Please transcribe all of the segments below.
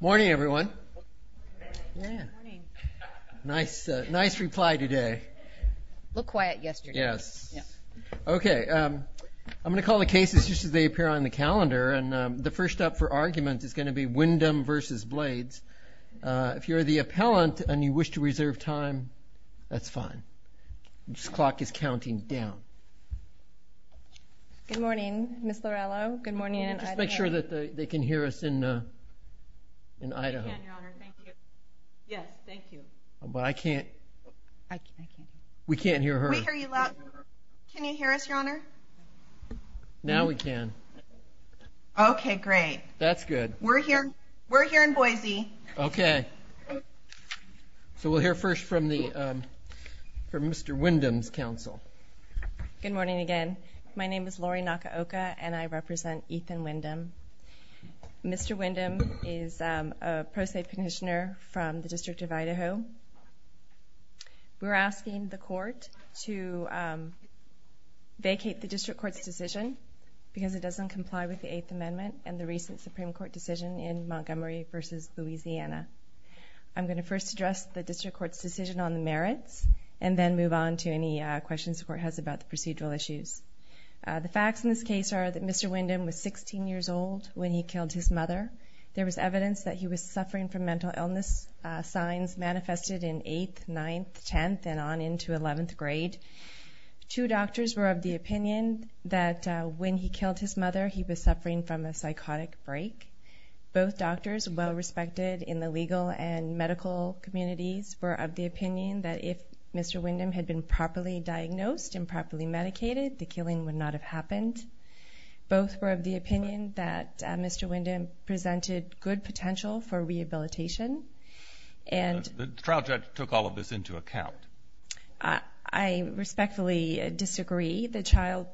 Morning everyone. Nice reply today. Look quiet yesterday. Yes. Okay I'm gonna call the cases just as they appear on the calendar and the first up for argument is going to be Windom v. Blades. If you're the appellant and you wish to reserve time, that's fine. This clock is counting down. Good morning Miss Lorello. Good morning. Make sure that they can hear us in an item. Yes thank you. But I can't. I can't. We can't hear her. Can you hear us your honor? Now we can. Okay great. That's good. We're here. We're here in Boise. Okay so we'll hear first from the from Mr. Windom's counsel. Good morning again. My name is Lori Nakaoka and I represent Ethan Windom. Mr. Windom is a pro se petitioner from the District of Idaho. We're asking the court to vacate the District Court's decision because it doesn't comply with the Eighth Amendment and the recent Supreme Court decision in Montgomery versus Louisiana. I'm going to first address the District Court's decision on the merits and then move on to any questions the court has about the procedural issues. The facts in this case are that Mr. Windom was 16 years old when he killed his mother. There was evidence that he was suffering from mental illness signs manifested in 8th, 9th, 10th and on into 11th grade. Two doctors were of the opinion that when he killed his mother he was suffering from a psychotic break. Both doctors well respected in the legal and medical communities were of the opinion that if Mr. Windom had been properly diagnosed and properly medicated the killing would not have happened. Both were of the opinion that Mr. Windom presented good potential for rehabilitation and... The trial judge took all of this into account. I respectfully disagree. The child,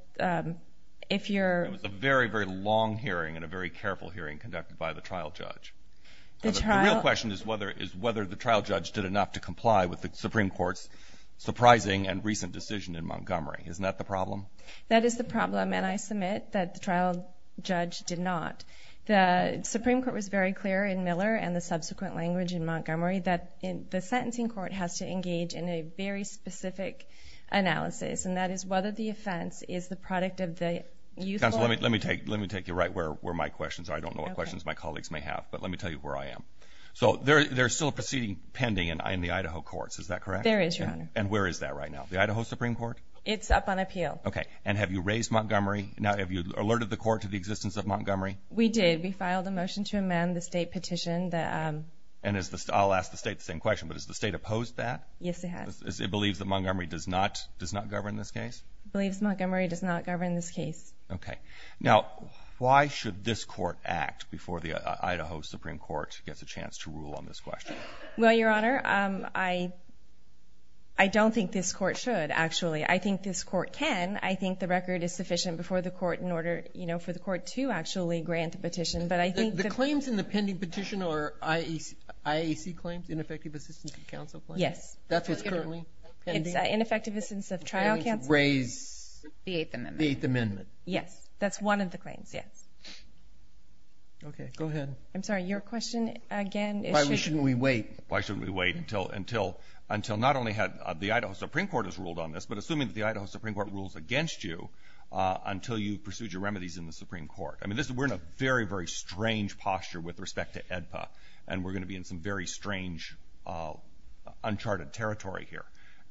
if you're... It was a very, very long hearing and a very careful hearing conducted by the trial judge. The real question is whether the trial judge did enough to comply with the Supreme Court's surprising and recent decision in Montgomery. Isn't that the problem? That is the problem and I submit that the trial judge did not. The Supreme Court was very clear in Miller and the subsequent language in Montgomery that the sentencing court has to engage in a very specific analysis and that is whether the offense is the product of the youthful... Let me take you right where my questions are. I don't know what questions my colleagues may have but let But there's still a proceeding pending in the Idaho courts, is that correct? There is, your honor. And where is that right now? The Idaho Supreme Court? It's up on appeal. Okay and have you raised Montgomery? Now have you alerted the court to the existence of Montgomery? We did. We filed a motion to amend the state petition that... And I'll ask the state the same question but is the state opposed that? Yes, it has. It believes that Montgomery does not govern this case? It believes Montgomery does not govern this case. Okay, now why should this court act before the Idaho Supreme Court gets a chance to rule on this question? Well, your honor, I don't think this court should actually. I think this court can. I think the record is sufficient before the court in order, you know, for the court to actually grant a petition. But I think... The claims in the pending petition are IAC claims, ineffective assistance of counsel claims? Yes. That's what's currently pending? Ineffective assistance of trial counsel? Raise the Eighth Amendment. Yes, that's one of the Your question again... Why shouldn't we wait? Why shouldn't we wait until not only had the Idaho Supreme Court has ruled on this, but assuming that the Idaho Supreme Court rules against you until you pursued your remedies in the Supreme Court? I mean, we're in a very, very strange posture with respect to AEDPA and we're going to be in some very strange, uncharted territory here.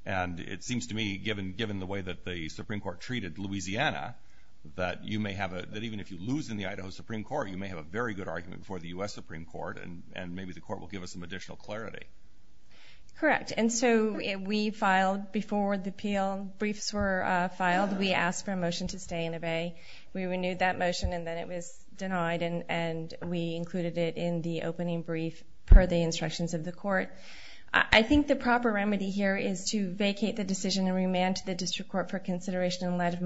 And it seems to me, given the way that the Supreme Court treated Louisiana, that you may have a... That even if you lose in the Idaho Supreme Court, you may have a very good argument for the U.S. Supreme Court, and maybe the court will give us some additional clarity. Correct. And so we filed before the appeal. Briefs were filed. We asked for a motion to stay and obey. We renewed that motion and then it was denied and we included it in the opening brief per the instructions of the court. I think the proper remedy here is to vacate the decision and remand to the District Court for consideration in light of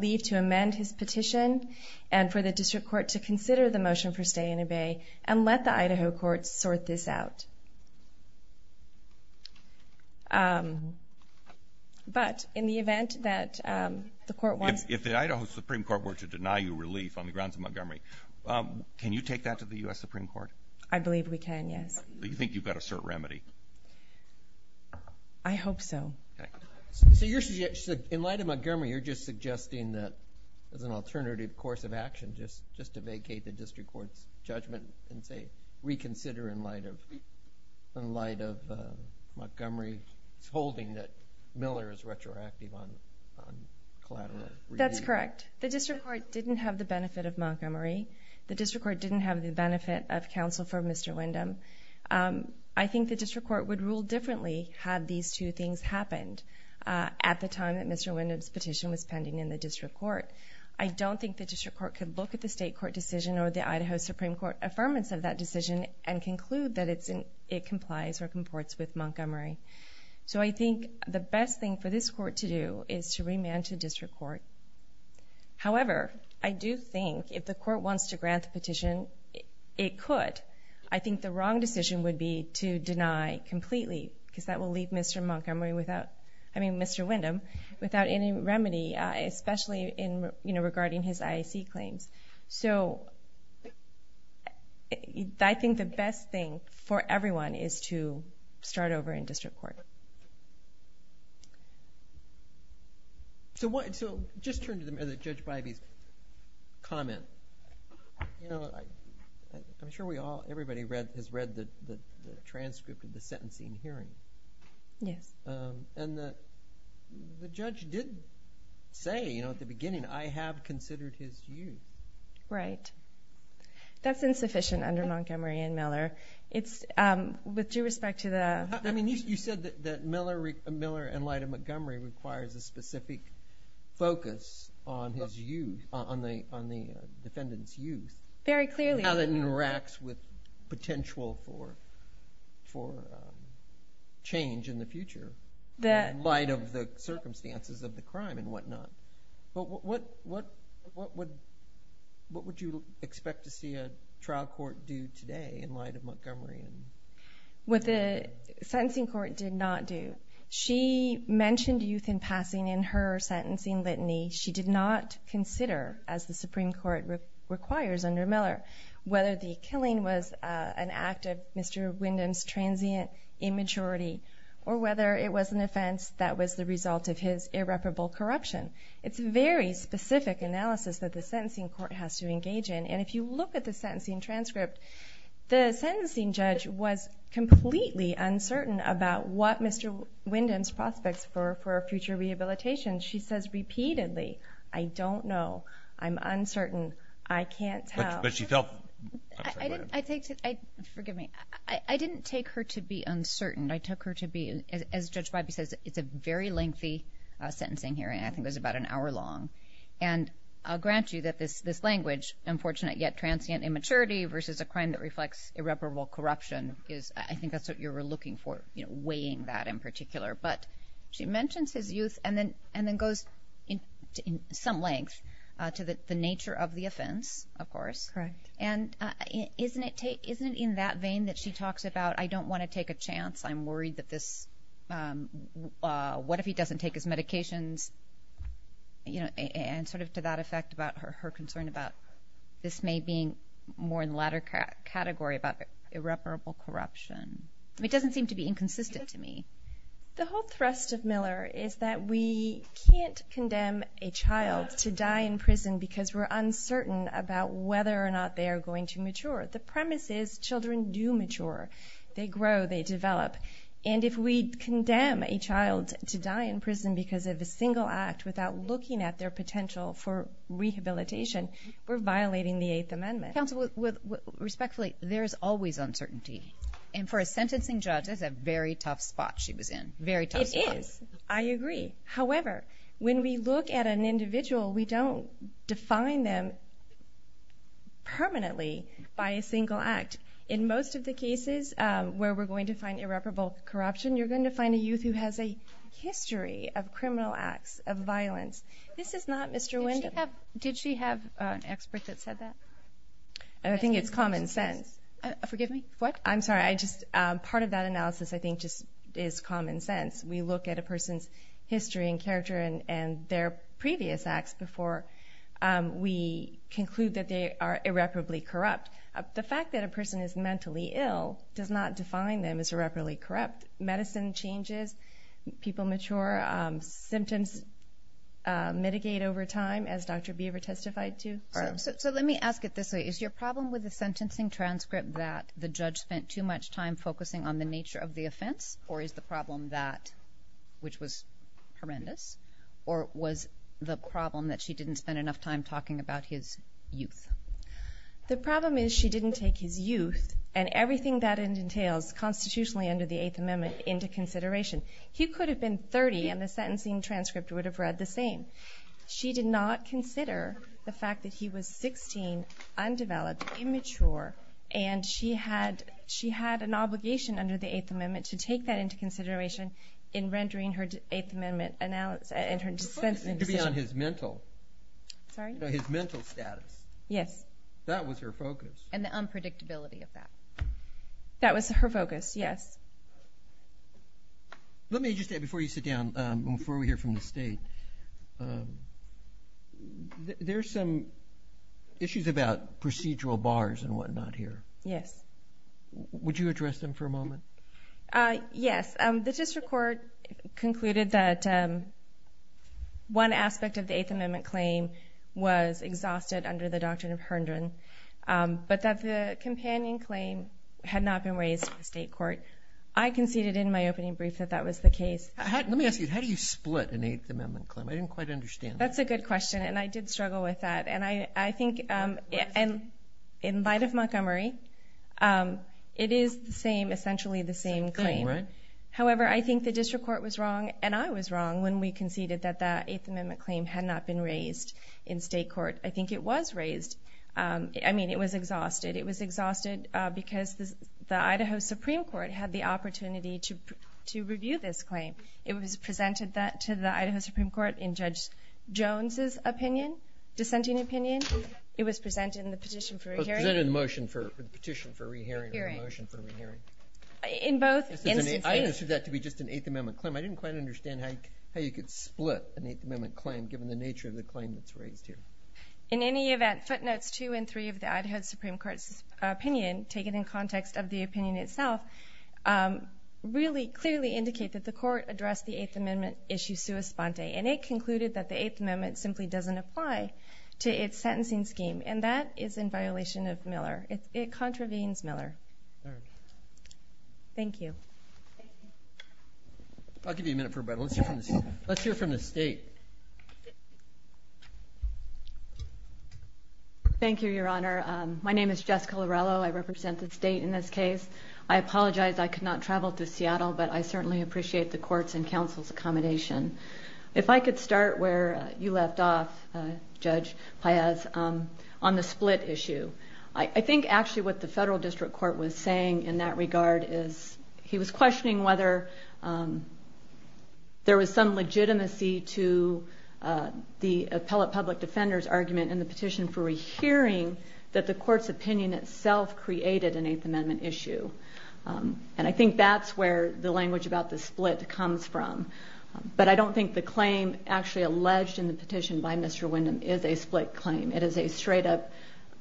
this petition and for the District Court to consider the motion for stay and obey and let the Idaho Court sort this out. But in the event that the court wants... If the Idaho Supreme Court were to deny you relief on the grounds of Montgomery, can you take that to the U.S. Supreme Court? I believe we can, yes. Do you think you've got a certain remedy? I hope so. So in light of Montgomery, you're just suggesting that as an alternative course of action, just to vacate the District Court's judgment and say reconsider in light of Montgomery's holding that Miller is retroactive on collateral relief. That's correct. The District Court didn't have the benefit of Montgomery. The District Court didn't have the benefit of counsel for Mr. Windham. I think the District Court would rule differently had these two things happened at the time that Mr. Windham's petition was pending in the District Court. I don't think the District Court could look at the State Court decision or the Idaho Supreme Court affirmance of that decision and conclude that it complies or comports with Montgomery. So I think the best thing for this court to do is to remand to District Court. However, I do think if the court wants to grant the petition, it could. I think the wrong decision would be to deny completely because that will leave Mr. Windham without any remedy, especially regarding his IAC claims. So I think the best thing for everyone is to start over in District Court. So just turn to Judge Bybee's comment. I'm sure everybody has read the transcript of the sentencing hearing. Yes. And the judge did say, you know, at the beginning, I have considered his youth. Right. That's insufficient under Montgomery and Miller. With due respect to the... I mean you said that Miller and Lyda Montgomery requires a specific focus on his youth, on the defendant's youth. Very clearly. How that interacts with potential for change in the future in light of the circumstances of the crime and whatnot. But what would you expect to see a trial court do today in light of Montgomery? What the sentencing court did not do. She mentioned youth in passing in her report requires under Miller. Whether the killing was an act of Mr. Windham's transient immaturity or whether it was an offense that was the result of his irreparable corruption. It's a very specific analysis that the sentencing court has to engage in. And if you look at the sentencing transcript, the sentencing judge was completely uncertain about what Mr. Windham's prospects for future rehabilitation. She says repeatedly, I don't know. I'm uncertain. I can't tell. But she felt... I didn't take her to be uncertain. I took her to be, as Judge Bybee says, it's a very lengthy sentencing hearing. I think it was about an hour long. And I'll grant you that this language, unfortunate yet transient immaturity versus a crime that reflects irreparable corruption, is I think that's what you were looking for. You know, weighing that in particular. But she mentions his youth and then goes in some length to the nature of the offense, of course. Correct. And isn't it in that vein that she talks about, I don't want to take a chance. I'm worried that this... What if he doesn't take his medications? You know, and sort of to that effect about her concern about this may being more in the latter category about irreparable corruption. It doesn't seem to be inconsistent to me. The whole thrust of Miller is that we can't condemn a child to die in prison because we're uncertain about whether or not they are going to mature. The premise is children do mature. They grow, they develop. And if we condemn a child to die in prison because of a single act without looking at their potential for rehabilitation, we're violating the Eighth Amendment. Counsel, respectfully, there's always uncertainty. And for a sentencing judge, that's a very tough spot she was in. Very tough spot. It is. I agree. However, when we look at an individual, we don't define them permanently by a single act. In most of the cases where we're going to find irreparable corruption, you're going to find a youth who has a history of criminal acts, of violence. This is not Mr. Windham. Did she have an expert that said that? I think it's common sense. Forgive me? What? I'm sorry. I just, part of that analysis I think just is common sense. We look at a person's history and character and their previous acts before we conclude that they are irreparably corrupt. The fact that a person is mentally ill does not define them as irreparably corrupt. Medicine changes. People mature. Symptoms mitigate over time, as Dr. Beaver testified to. So let me ask it this way. Is your problem with the sentencing transcript that the judge spent too much time focusing on the nature of the offense? Or is the problem that, which was horrendous, or was the problem that she didn't spend enough time talking about his youth? The problem is she didn't take his youth and everything that it entails constitutionally under the Eighth Amendment into consideration. He could have been 30 and the sentencing transcript would have read the same. She did not consider the fact that he was 16, undeveloped, immature, and she had, she had an obligation under the Eighth Amendment to take that into consideration in rendering her Eighth Amendment analysis and her sentencing decision. To be on his mental. Sorry? His mental status. Yes. That was her focus. And the unpredictability of that. That was her focus. Yes. Let me just add, before you sit down, before we hear from the state, there's some issues about procedural bars and whatnot here. Yes. Would you address them for a moment? Yes. The district court concluded that one aspect of the Eighth Amendment claim was exhausted under the doctrine of Herndon, but that the companion claim had not been raised in state court. I conceded in my opening brief that that was the case. Let me ask you, how do you split an Eighth Amendment claim? I didn't quite understand. That's a good question and I did struggle with that. And I think, in light of Montgomery, it is the same, essentially the same claim. However, I think the district court was wrong and I was wrong when we conceded that that Eighth Amendment claim had not been raised. I mean, it was exhausted. It was exhausted because the Idaho Supreme Court had the opportunity to review this claim. It was presented that to the Idaho Supreme Court in Judge Jones's opinion, dissenting opinion. It was presented in the petition for re-hearing. It was presented in the motion for, the petition for re-hearing or the motion for re-hearing. In both instances. I understood that to be just an Eighth Amendment claim. I didn't quite understand how you could split an Eighth Amendment claim that was raised here. In any event, footnotes two and three of the Idaho Supreme Court's opinion, taken in context of the opinion itself, really clearly indicate that the court addressed the Eighth Amendment issue sua sponte. And it concluded that the Eighth Amendment simply doesn't apply to its sentencing scheme. And that is in violation of Miller. It contravenes Miller. Thank you. I'll give you a minute for a break. Let's hear from the state. Thank you, Your Honor. My name is Jessica Lorello. I represent the state in this case. I apologize I could not travel to Seattle, but I certainly appreciate the court's and counsel's accommodation. If I could start where you left off, Judge Paez, on the split issue. I think actually what the federal district court was saying in that regard is, he was in the petition for a hearing that the court's opinion itself created an Eighth Amendment issue. And I think that's where the language about the split comes from. But I don't think the claim actually alleged in the petition by Mr. Windham is a split claim. It is a straight-up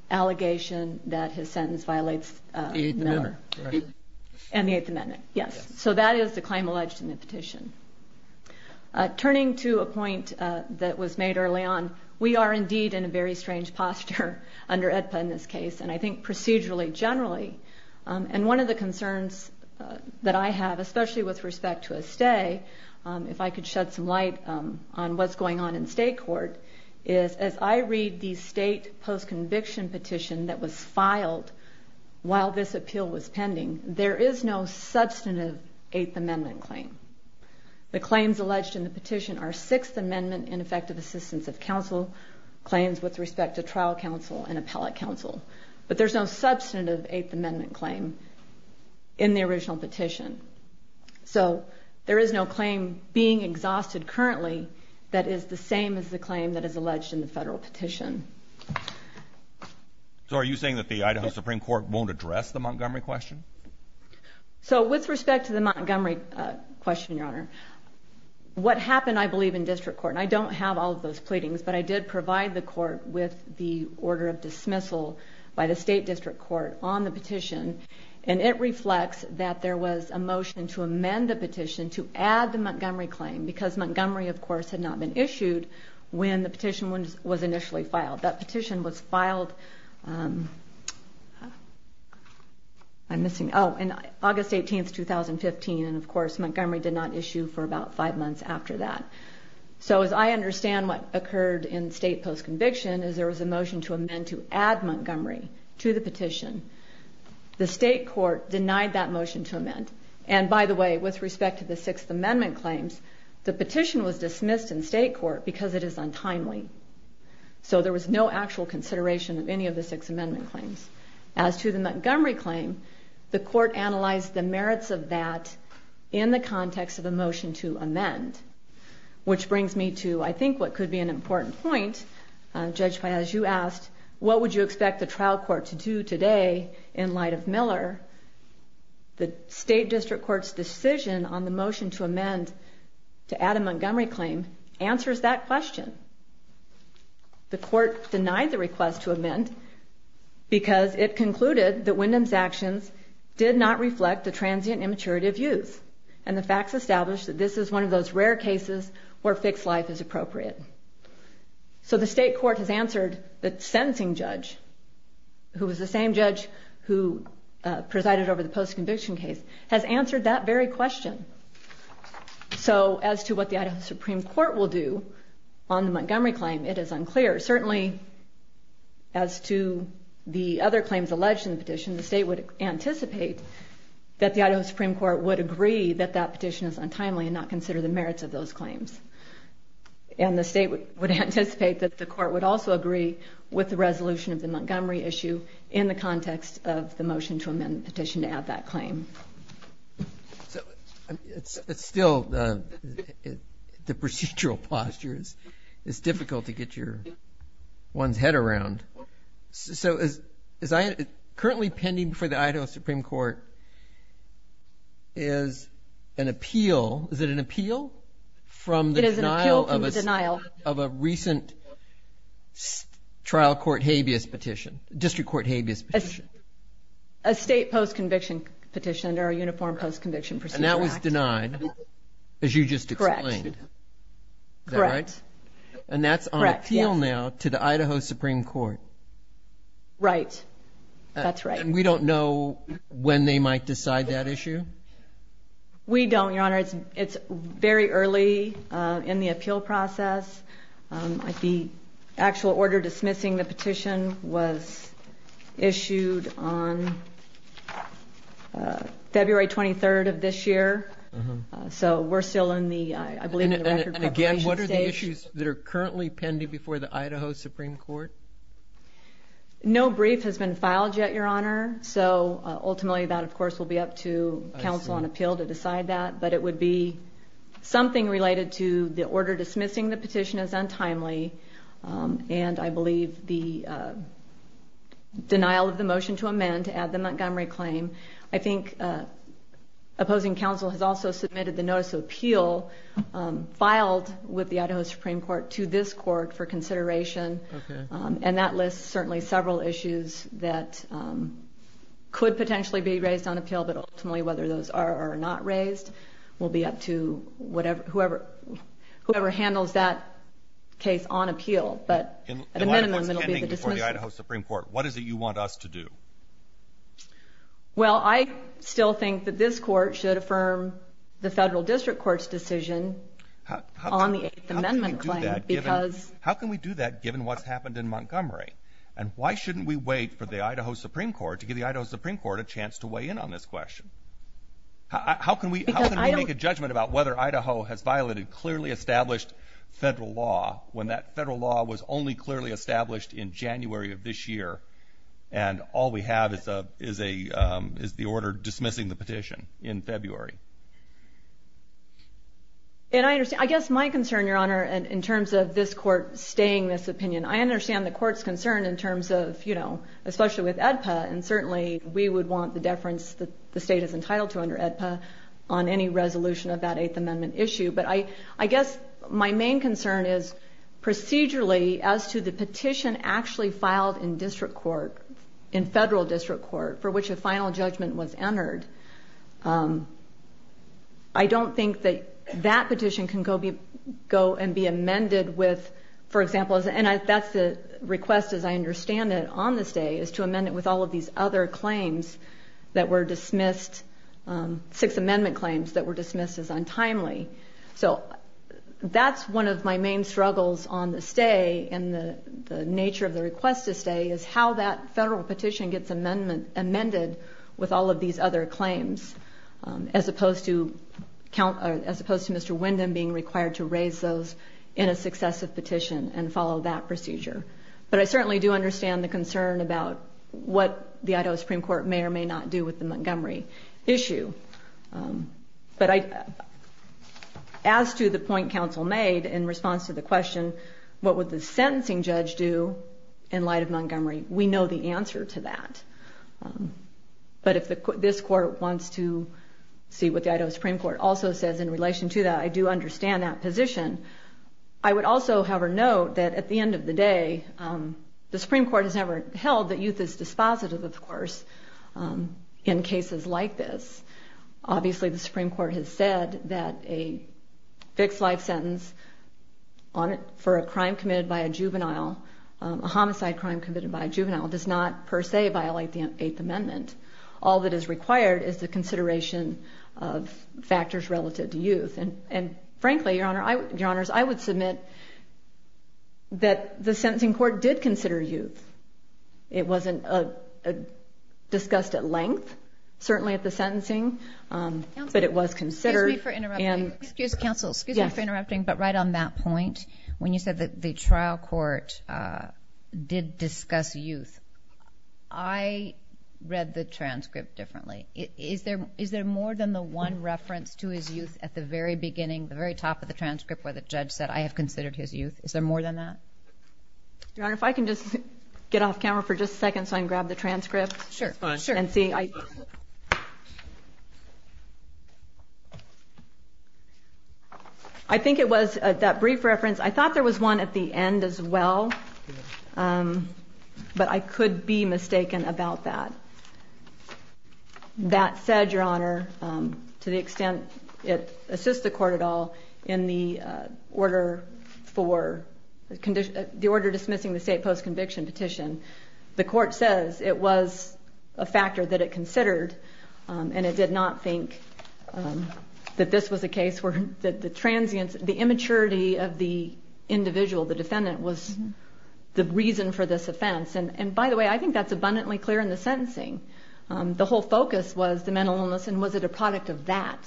allegation that his sentence violates Miller. And the Eighth Amendment. Yes. So that is the claim alleged in the petition. Turning to a point that was made early on, we are indeed in a very strange posture under AEDPA in this case. And I think procedurally, generally. And one of the concerns that I have, especially with respect to a stay, if I could shed some light on what's going on in state court, is as I read the state post-conviction petition that was filed while this appeal was pending, there is no substantive Eighth Amendment claim. The claims alleged in the petition are Sixth Amendment ineffective assistance of counsel claims with respect to trial counsel and appellate counsel. But there's no substantive Eighth Amendment claim in the original petition. So there is no claim being exhausted currently that is the same as the claim that is alleged in the federal petition. So are you saying that the Idaho Supreme Court won't address the Montgomery question? So with respect to the Montgomery question, Your Honor, what happened, I believe, in district court, and I don't have all of those pleadings, but I did provide the court with the order of dismissal by the state district court on the petition. And it reflects that there was a motion to amend the petition to add the Montgomery claim. Because Montgomery, of course, had not been issued when the petition was initially filed. That petition was filed in August 18, 2015, and of course Montgomery did not issue for about five months after that. So as I understand what occurred in state post-conviction is there was a motion to amend to add Montgomery to the petition. The state court denied that motion to amend. And by the way, with respect to the Sixth Amendment claims, the petition was dismissed in state court because it is untimely. So there was no actual consideration of any of the Sixth Amendment claims. As to the Montgomery claim, the court analyzed the merits of that in the context of the motion to amend, which brings me to, I think, what could be an important point, Judge Piazzu asked, what would you expect the trial court to do today in light of Miller, the state district court's decision on the motion to amend to add a Montgomery claim answers that question. The court denied the request to amend because it concluded that Wyndham's actions did not reflect the transient immaturity of youth, and the facts established that this is one of those rare cases where fixed life is appropriate. So the state court has answered the sentencing judge, who was the same judge who presided over the post-conviction case, has answered that very question. So as to what the Idaho Supreme Court will do on the Montgomery claim, it is unclear. Certainly, as to the other claims alleged in the petition, the state would anticipate that the Idaho Supreme Court would agree that that petition is untimely and not consider the merits of those claims. And the state would anticipate that the court would also agree with the resolution of the Montgomery issue in the context of the motion to amend the petition to add that claim. So it's still the procedural postures, it's difficult to get your one's head around. So currently pending before the Idaho Supreme Court is an appeal, is it an appeal? It is an appeal from the denial of a recent trial court habeas petition, district court habeas petition. A state post-conviction petition under a uniform post-conviction procedure act. And that was denied, as you just explained. Correct. Is that right? Correct. So it's an appeal now to the Idaho Supreme Court? Right. That's right. And we don't know when they might decide that issue? We don't, Your Honor. It's very early in the appeal process. The actual order dismissing the petition was issued on February 23rd of this year. So we're still in the, I believe, record preparation stage. And what are the issues that are currently pending before the Idaho Supreme Court? No brief has been filed yet, Your Honor. So ultimately that, of course, will be up to counsel on appeal to decide that. But it would be something related to the order dismissing the petition as untimely and, I believe, the denial of the motion to amend to add the Montgomery claim. I think opposing counsel has also submitted the notice of appeal filed with the Idaho Supreme Court to this court for consideration. Okay. And that lists certainly several issues that could potentially be raised on appeal. But ultimately whether those are or are not raised will be up to whoever handles that case on appeal. But at a minimum it will be the dismissal. Well, I still think that this court should affirm the federal district court's decision on the Eighth Amendment claim. How can we do that given what's happened in Montgomery? And why shouldn't we wait for the Idaho Supreme Court to give the Idaho Supreme Court a chance to weigh in on this question? How can we make a judgment about whether Idaho has violated clearly established federal law when that federal law was only clearly established in January of this year and all we have is the order dismissing the petition in February? And I guess my concern, Your Honor, in terms of this court staying this opinion, I understand the court's concern in terms of, you know, especially with AEDPA, and certainly we would want the deference that the state is entitled to under AEDPA on any resolution of that Eighth Amendment issue. But I guess my main concern is procedurally as to the petition actually filed in district court, in federal district court for which a final judgment was entered. I don't think that that petition can go and be amended with, for example, and that's the request as I understand it on this day, is to amend it with all of these other claims that were dismissed, Sixth Amendment claims that were dismissed as untimely. So that's one of my main struggles on the stay and the nature of the request to stay is how that federal petition gets amended with all of these other claims, as opposed to Mr. Wyndham being required to raise those in a successive petition and follow that procedure. But I certainly do understand the concern about what the Idaho Supreme Court may or may not do with the Montgomery issue. But as to the point counsel made in response to the question, what would the sentencing judge do in light of Montgomery? We know the answer to that. But if this court wants to see what the Idaho Supreme Court also says in relation to that, I do understand that position. I would also, however, note that at the end of the day, the Supreme Court has never held that youth is dispositive, of course, in cases like this. Obviously, the Supreme Court has said that a fixed life sentence for a crime committed by a juvenile, a homicide crime committed by a juvenile, does not per se violate the Eighth Amendment. All that is required is the consideration of factors relative to youth. And frankly, Your Honors, I would submit that the sentencing court did consider youth. It wasn't discussed at length, certainly at the sentencing, but it was considered. Excuse me for interrupting, but right on that point, when you said that the trial court did discuss youth, I read the transcript differently. Is there more than the one reference to his youth at the very beginning, the very top of the transcript where the judge said, I have considered his youth? Is there more than that? Your Honor, if I can just get off camera for just a second so I can grab the transcript. Sure. I think it was that brief reference. I thought there was one at the end as well, but I could be mistaken about that. That said, Your Honor, to the extent it assists the court at all, in the order dismissing the state post-conviction petition, the court says it was a factor that it considered, and it did not think that this was a case where the transience, the immaturity of the individual, the defendant, was the reason for this offense. And by the way, I think that's abundantly clear in the sentencing. The whole focus was the mental illness and was it a product of that,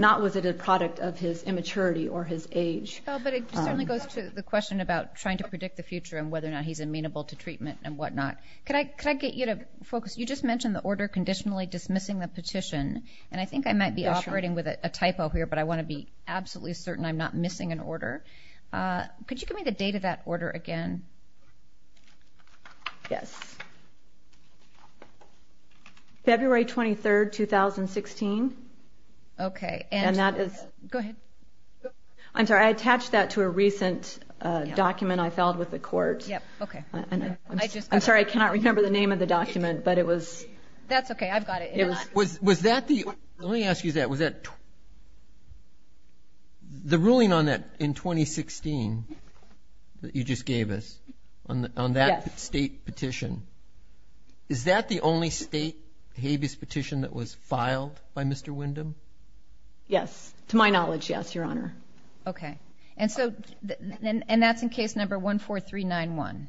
not was it a product of his immaturity or his age. But it certainly goes to the question about trying to predict the future and whether or not he's amenable to treatment and whatnot. Could I get you to focus? You just mentioned the order conditionally dismissing the petition, and I think I might be operating with a typo here, but I want to be absolutely certain I'm not missing an order. Could you give me the date of that order again? Yes. February 23, 2016. Okay. And that is – Go ahead. I'm sorry. I attached that to a recent document I filed with the court. Okay. I'm sorry. I cannot remember the name of the document, but it was – That's okay. I've got it. Was that the – let me ask you that. Was that – the ruling on that in 2016 that you just gave us on that State petition, is that the only State habeas petition that was filed by Mr. Windham? Yes. To my knowledge, yes, Your Honor. Okay. And that's in case number 14391.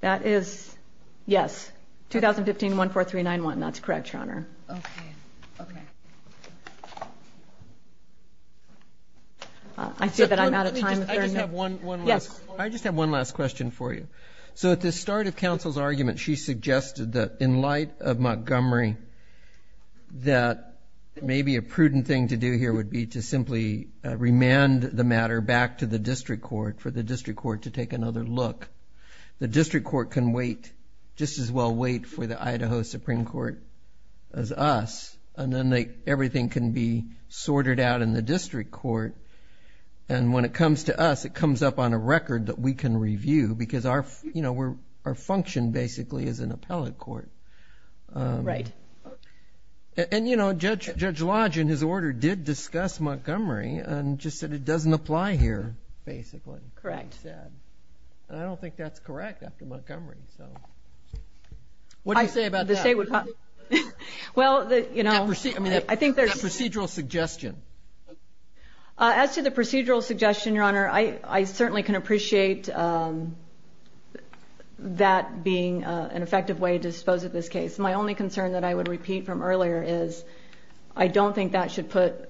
That is – yes, 2015, 14391. That's correct, Your Honor. Okay. Okay. I see that I'm out of time. I just have one last question for you. So at the start of counsel's argument, she suggested that in light of Montgomery that maybe a prudent thing to do here would be to simply remand the matter back to the district court for the district court to take another look. The district court can wait, just as well wait for the Idaho Supreme Court as us, and then everything can be sorted out in the district court. And when it comes to us, it comes up on a record that we can review because our function basically is an appellate court. Right. And, you know, Judge Lodge in his order did discuss Montgomery and just said it doesn't apply here, basically. Correct. And I don't think that's correct after Montgomery. What do you say about that? Well, you know, I think there's – That procedural suggestion. As to the procedural suggestion, Your Honor, I certainly can appreciate that being an effective way to dispose of this case. My only concern that I would repeat from earlier is I don't think that should put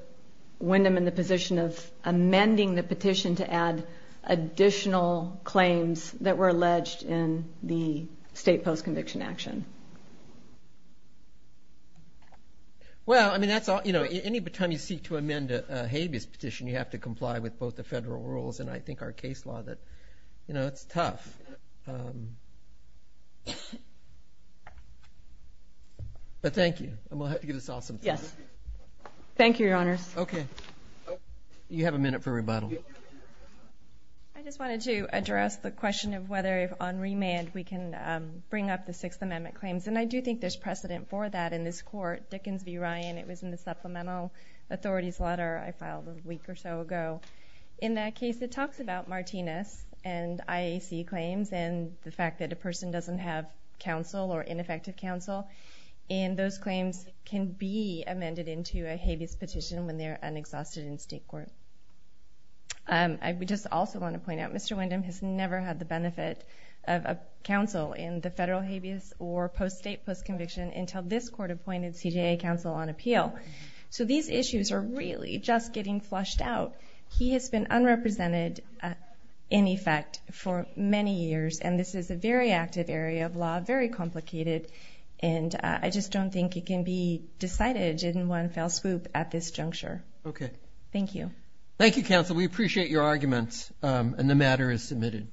Wyndham in the position of amending the petition to add additional claims that were alleged in the state post-conviction action. Well, I mean, any time you seek to amend a habeas petition, you have to comply with both the federal rules and I think our case law that, you know, it's tough. But thank you. And we'll have to give this all some time. Yes. Thank you, Your Honors. Okay. You have a minute for rebuttal. I just wanted to address the question of whether on remand we can bring up the Sixth Amendment claims. And I do think there's precedent for that in this court. Dickens v. Ryan, it was in the supplemental authorities letter I filed a week or so ago. In that case, it talks about Martinez and IAC claims and the fact that a person doesn't have counsel or ineffective counsel. And those claims can be amended into a habeas petition when they're unexhausted in state court. I just also want to point out Mr. Wyndham has never had the benefit of a counsel in the federal habeas or post-state post-conviction until this court appointed CJA counsel on appeal. So these issues are really just getting flushed out. He has been unrepresented in effect for many years. And this is a very active area of law, very complicated. And I just don't think it can be decided in one fell swoop at this juncture. Okay. Thank you. Thank you, counsel. We appreciate your arguments. And the matter is submitted.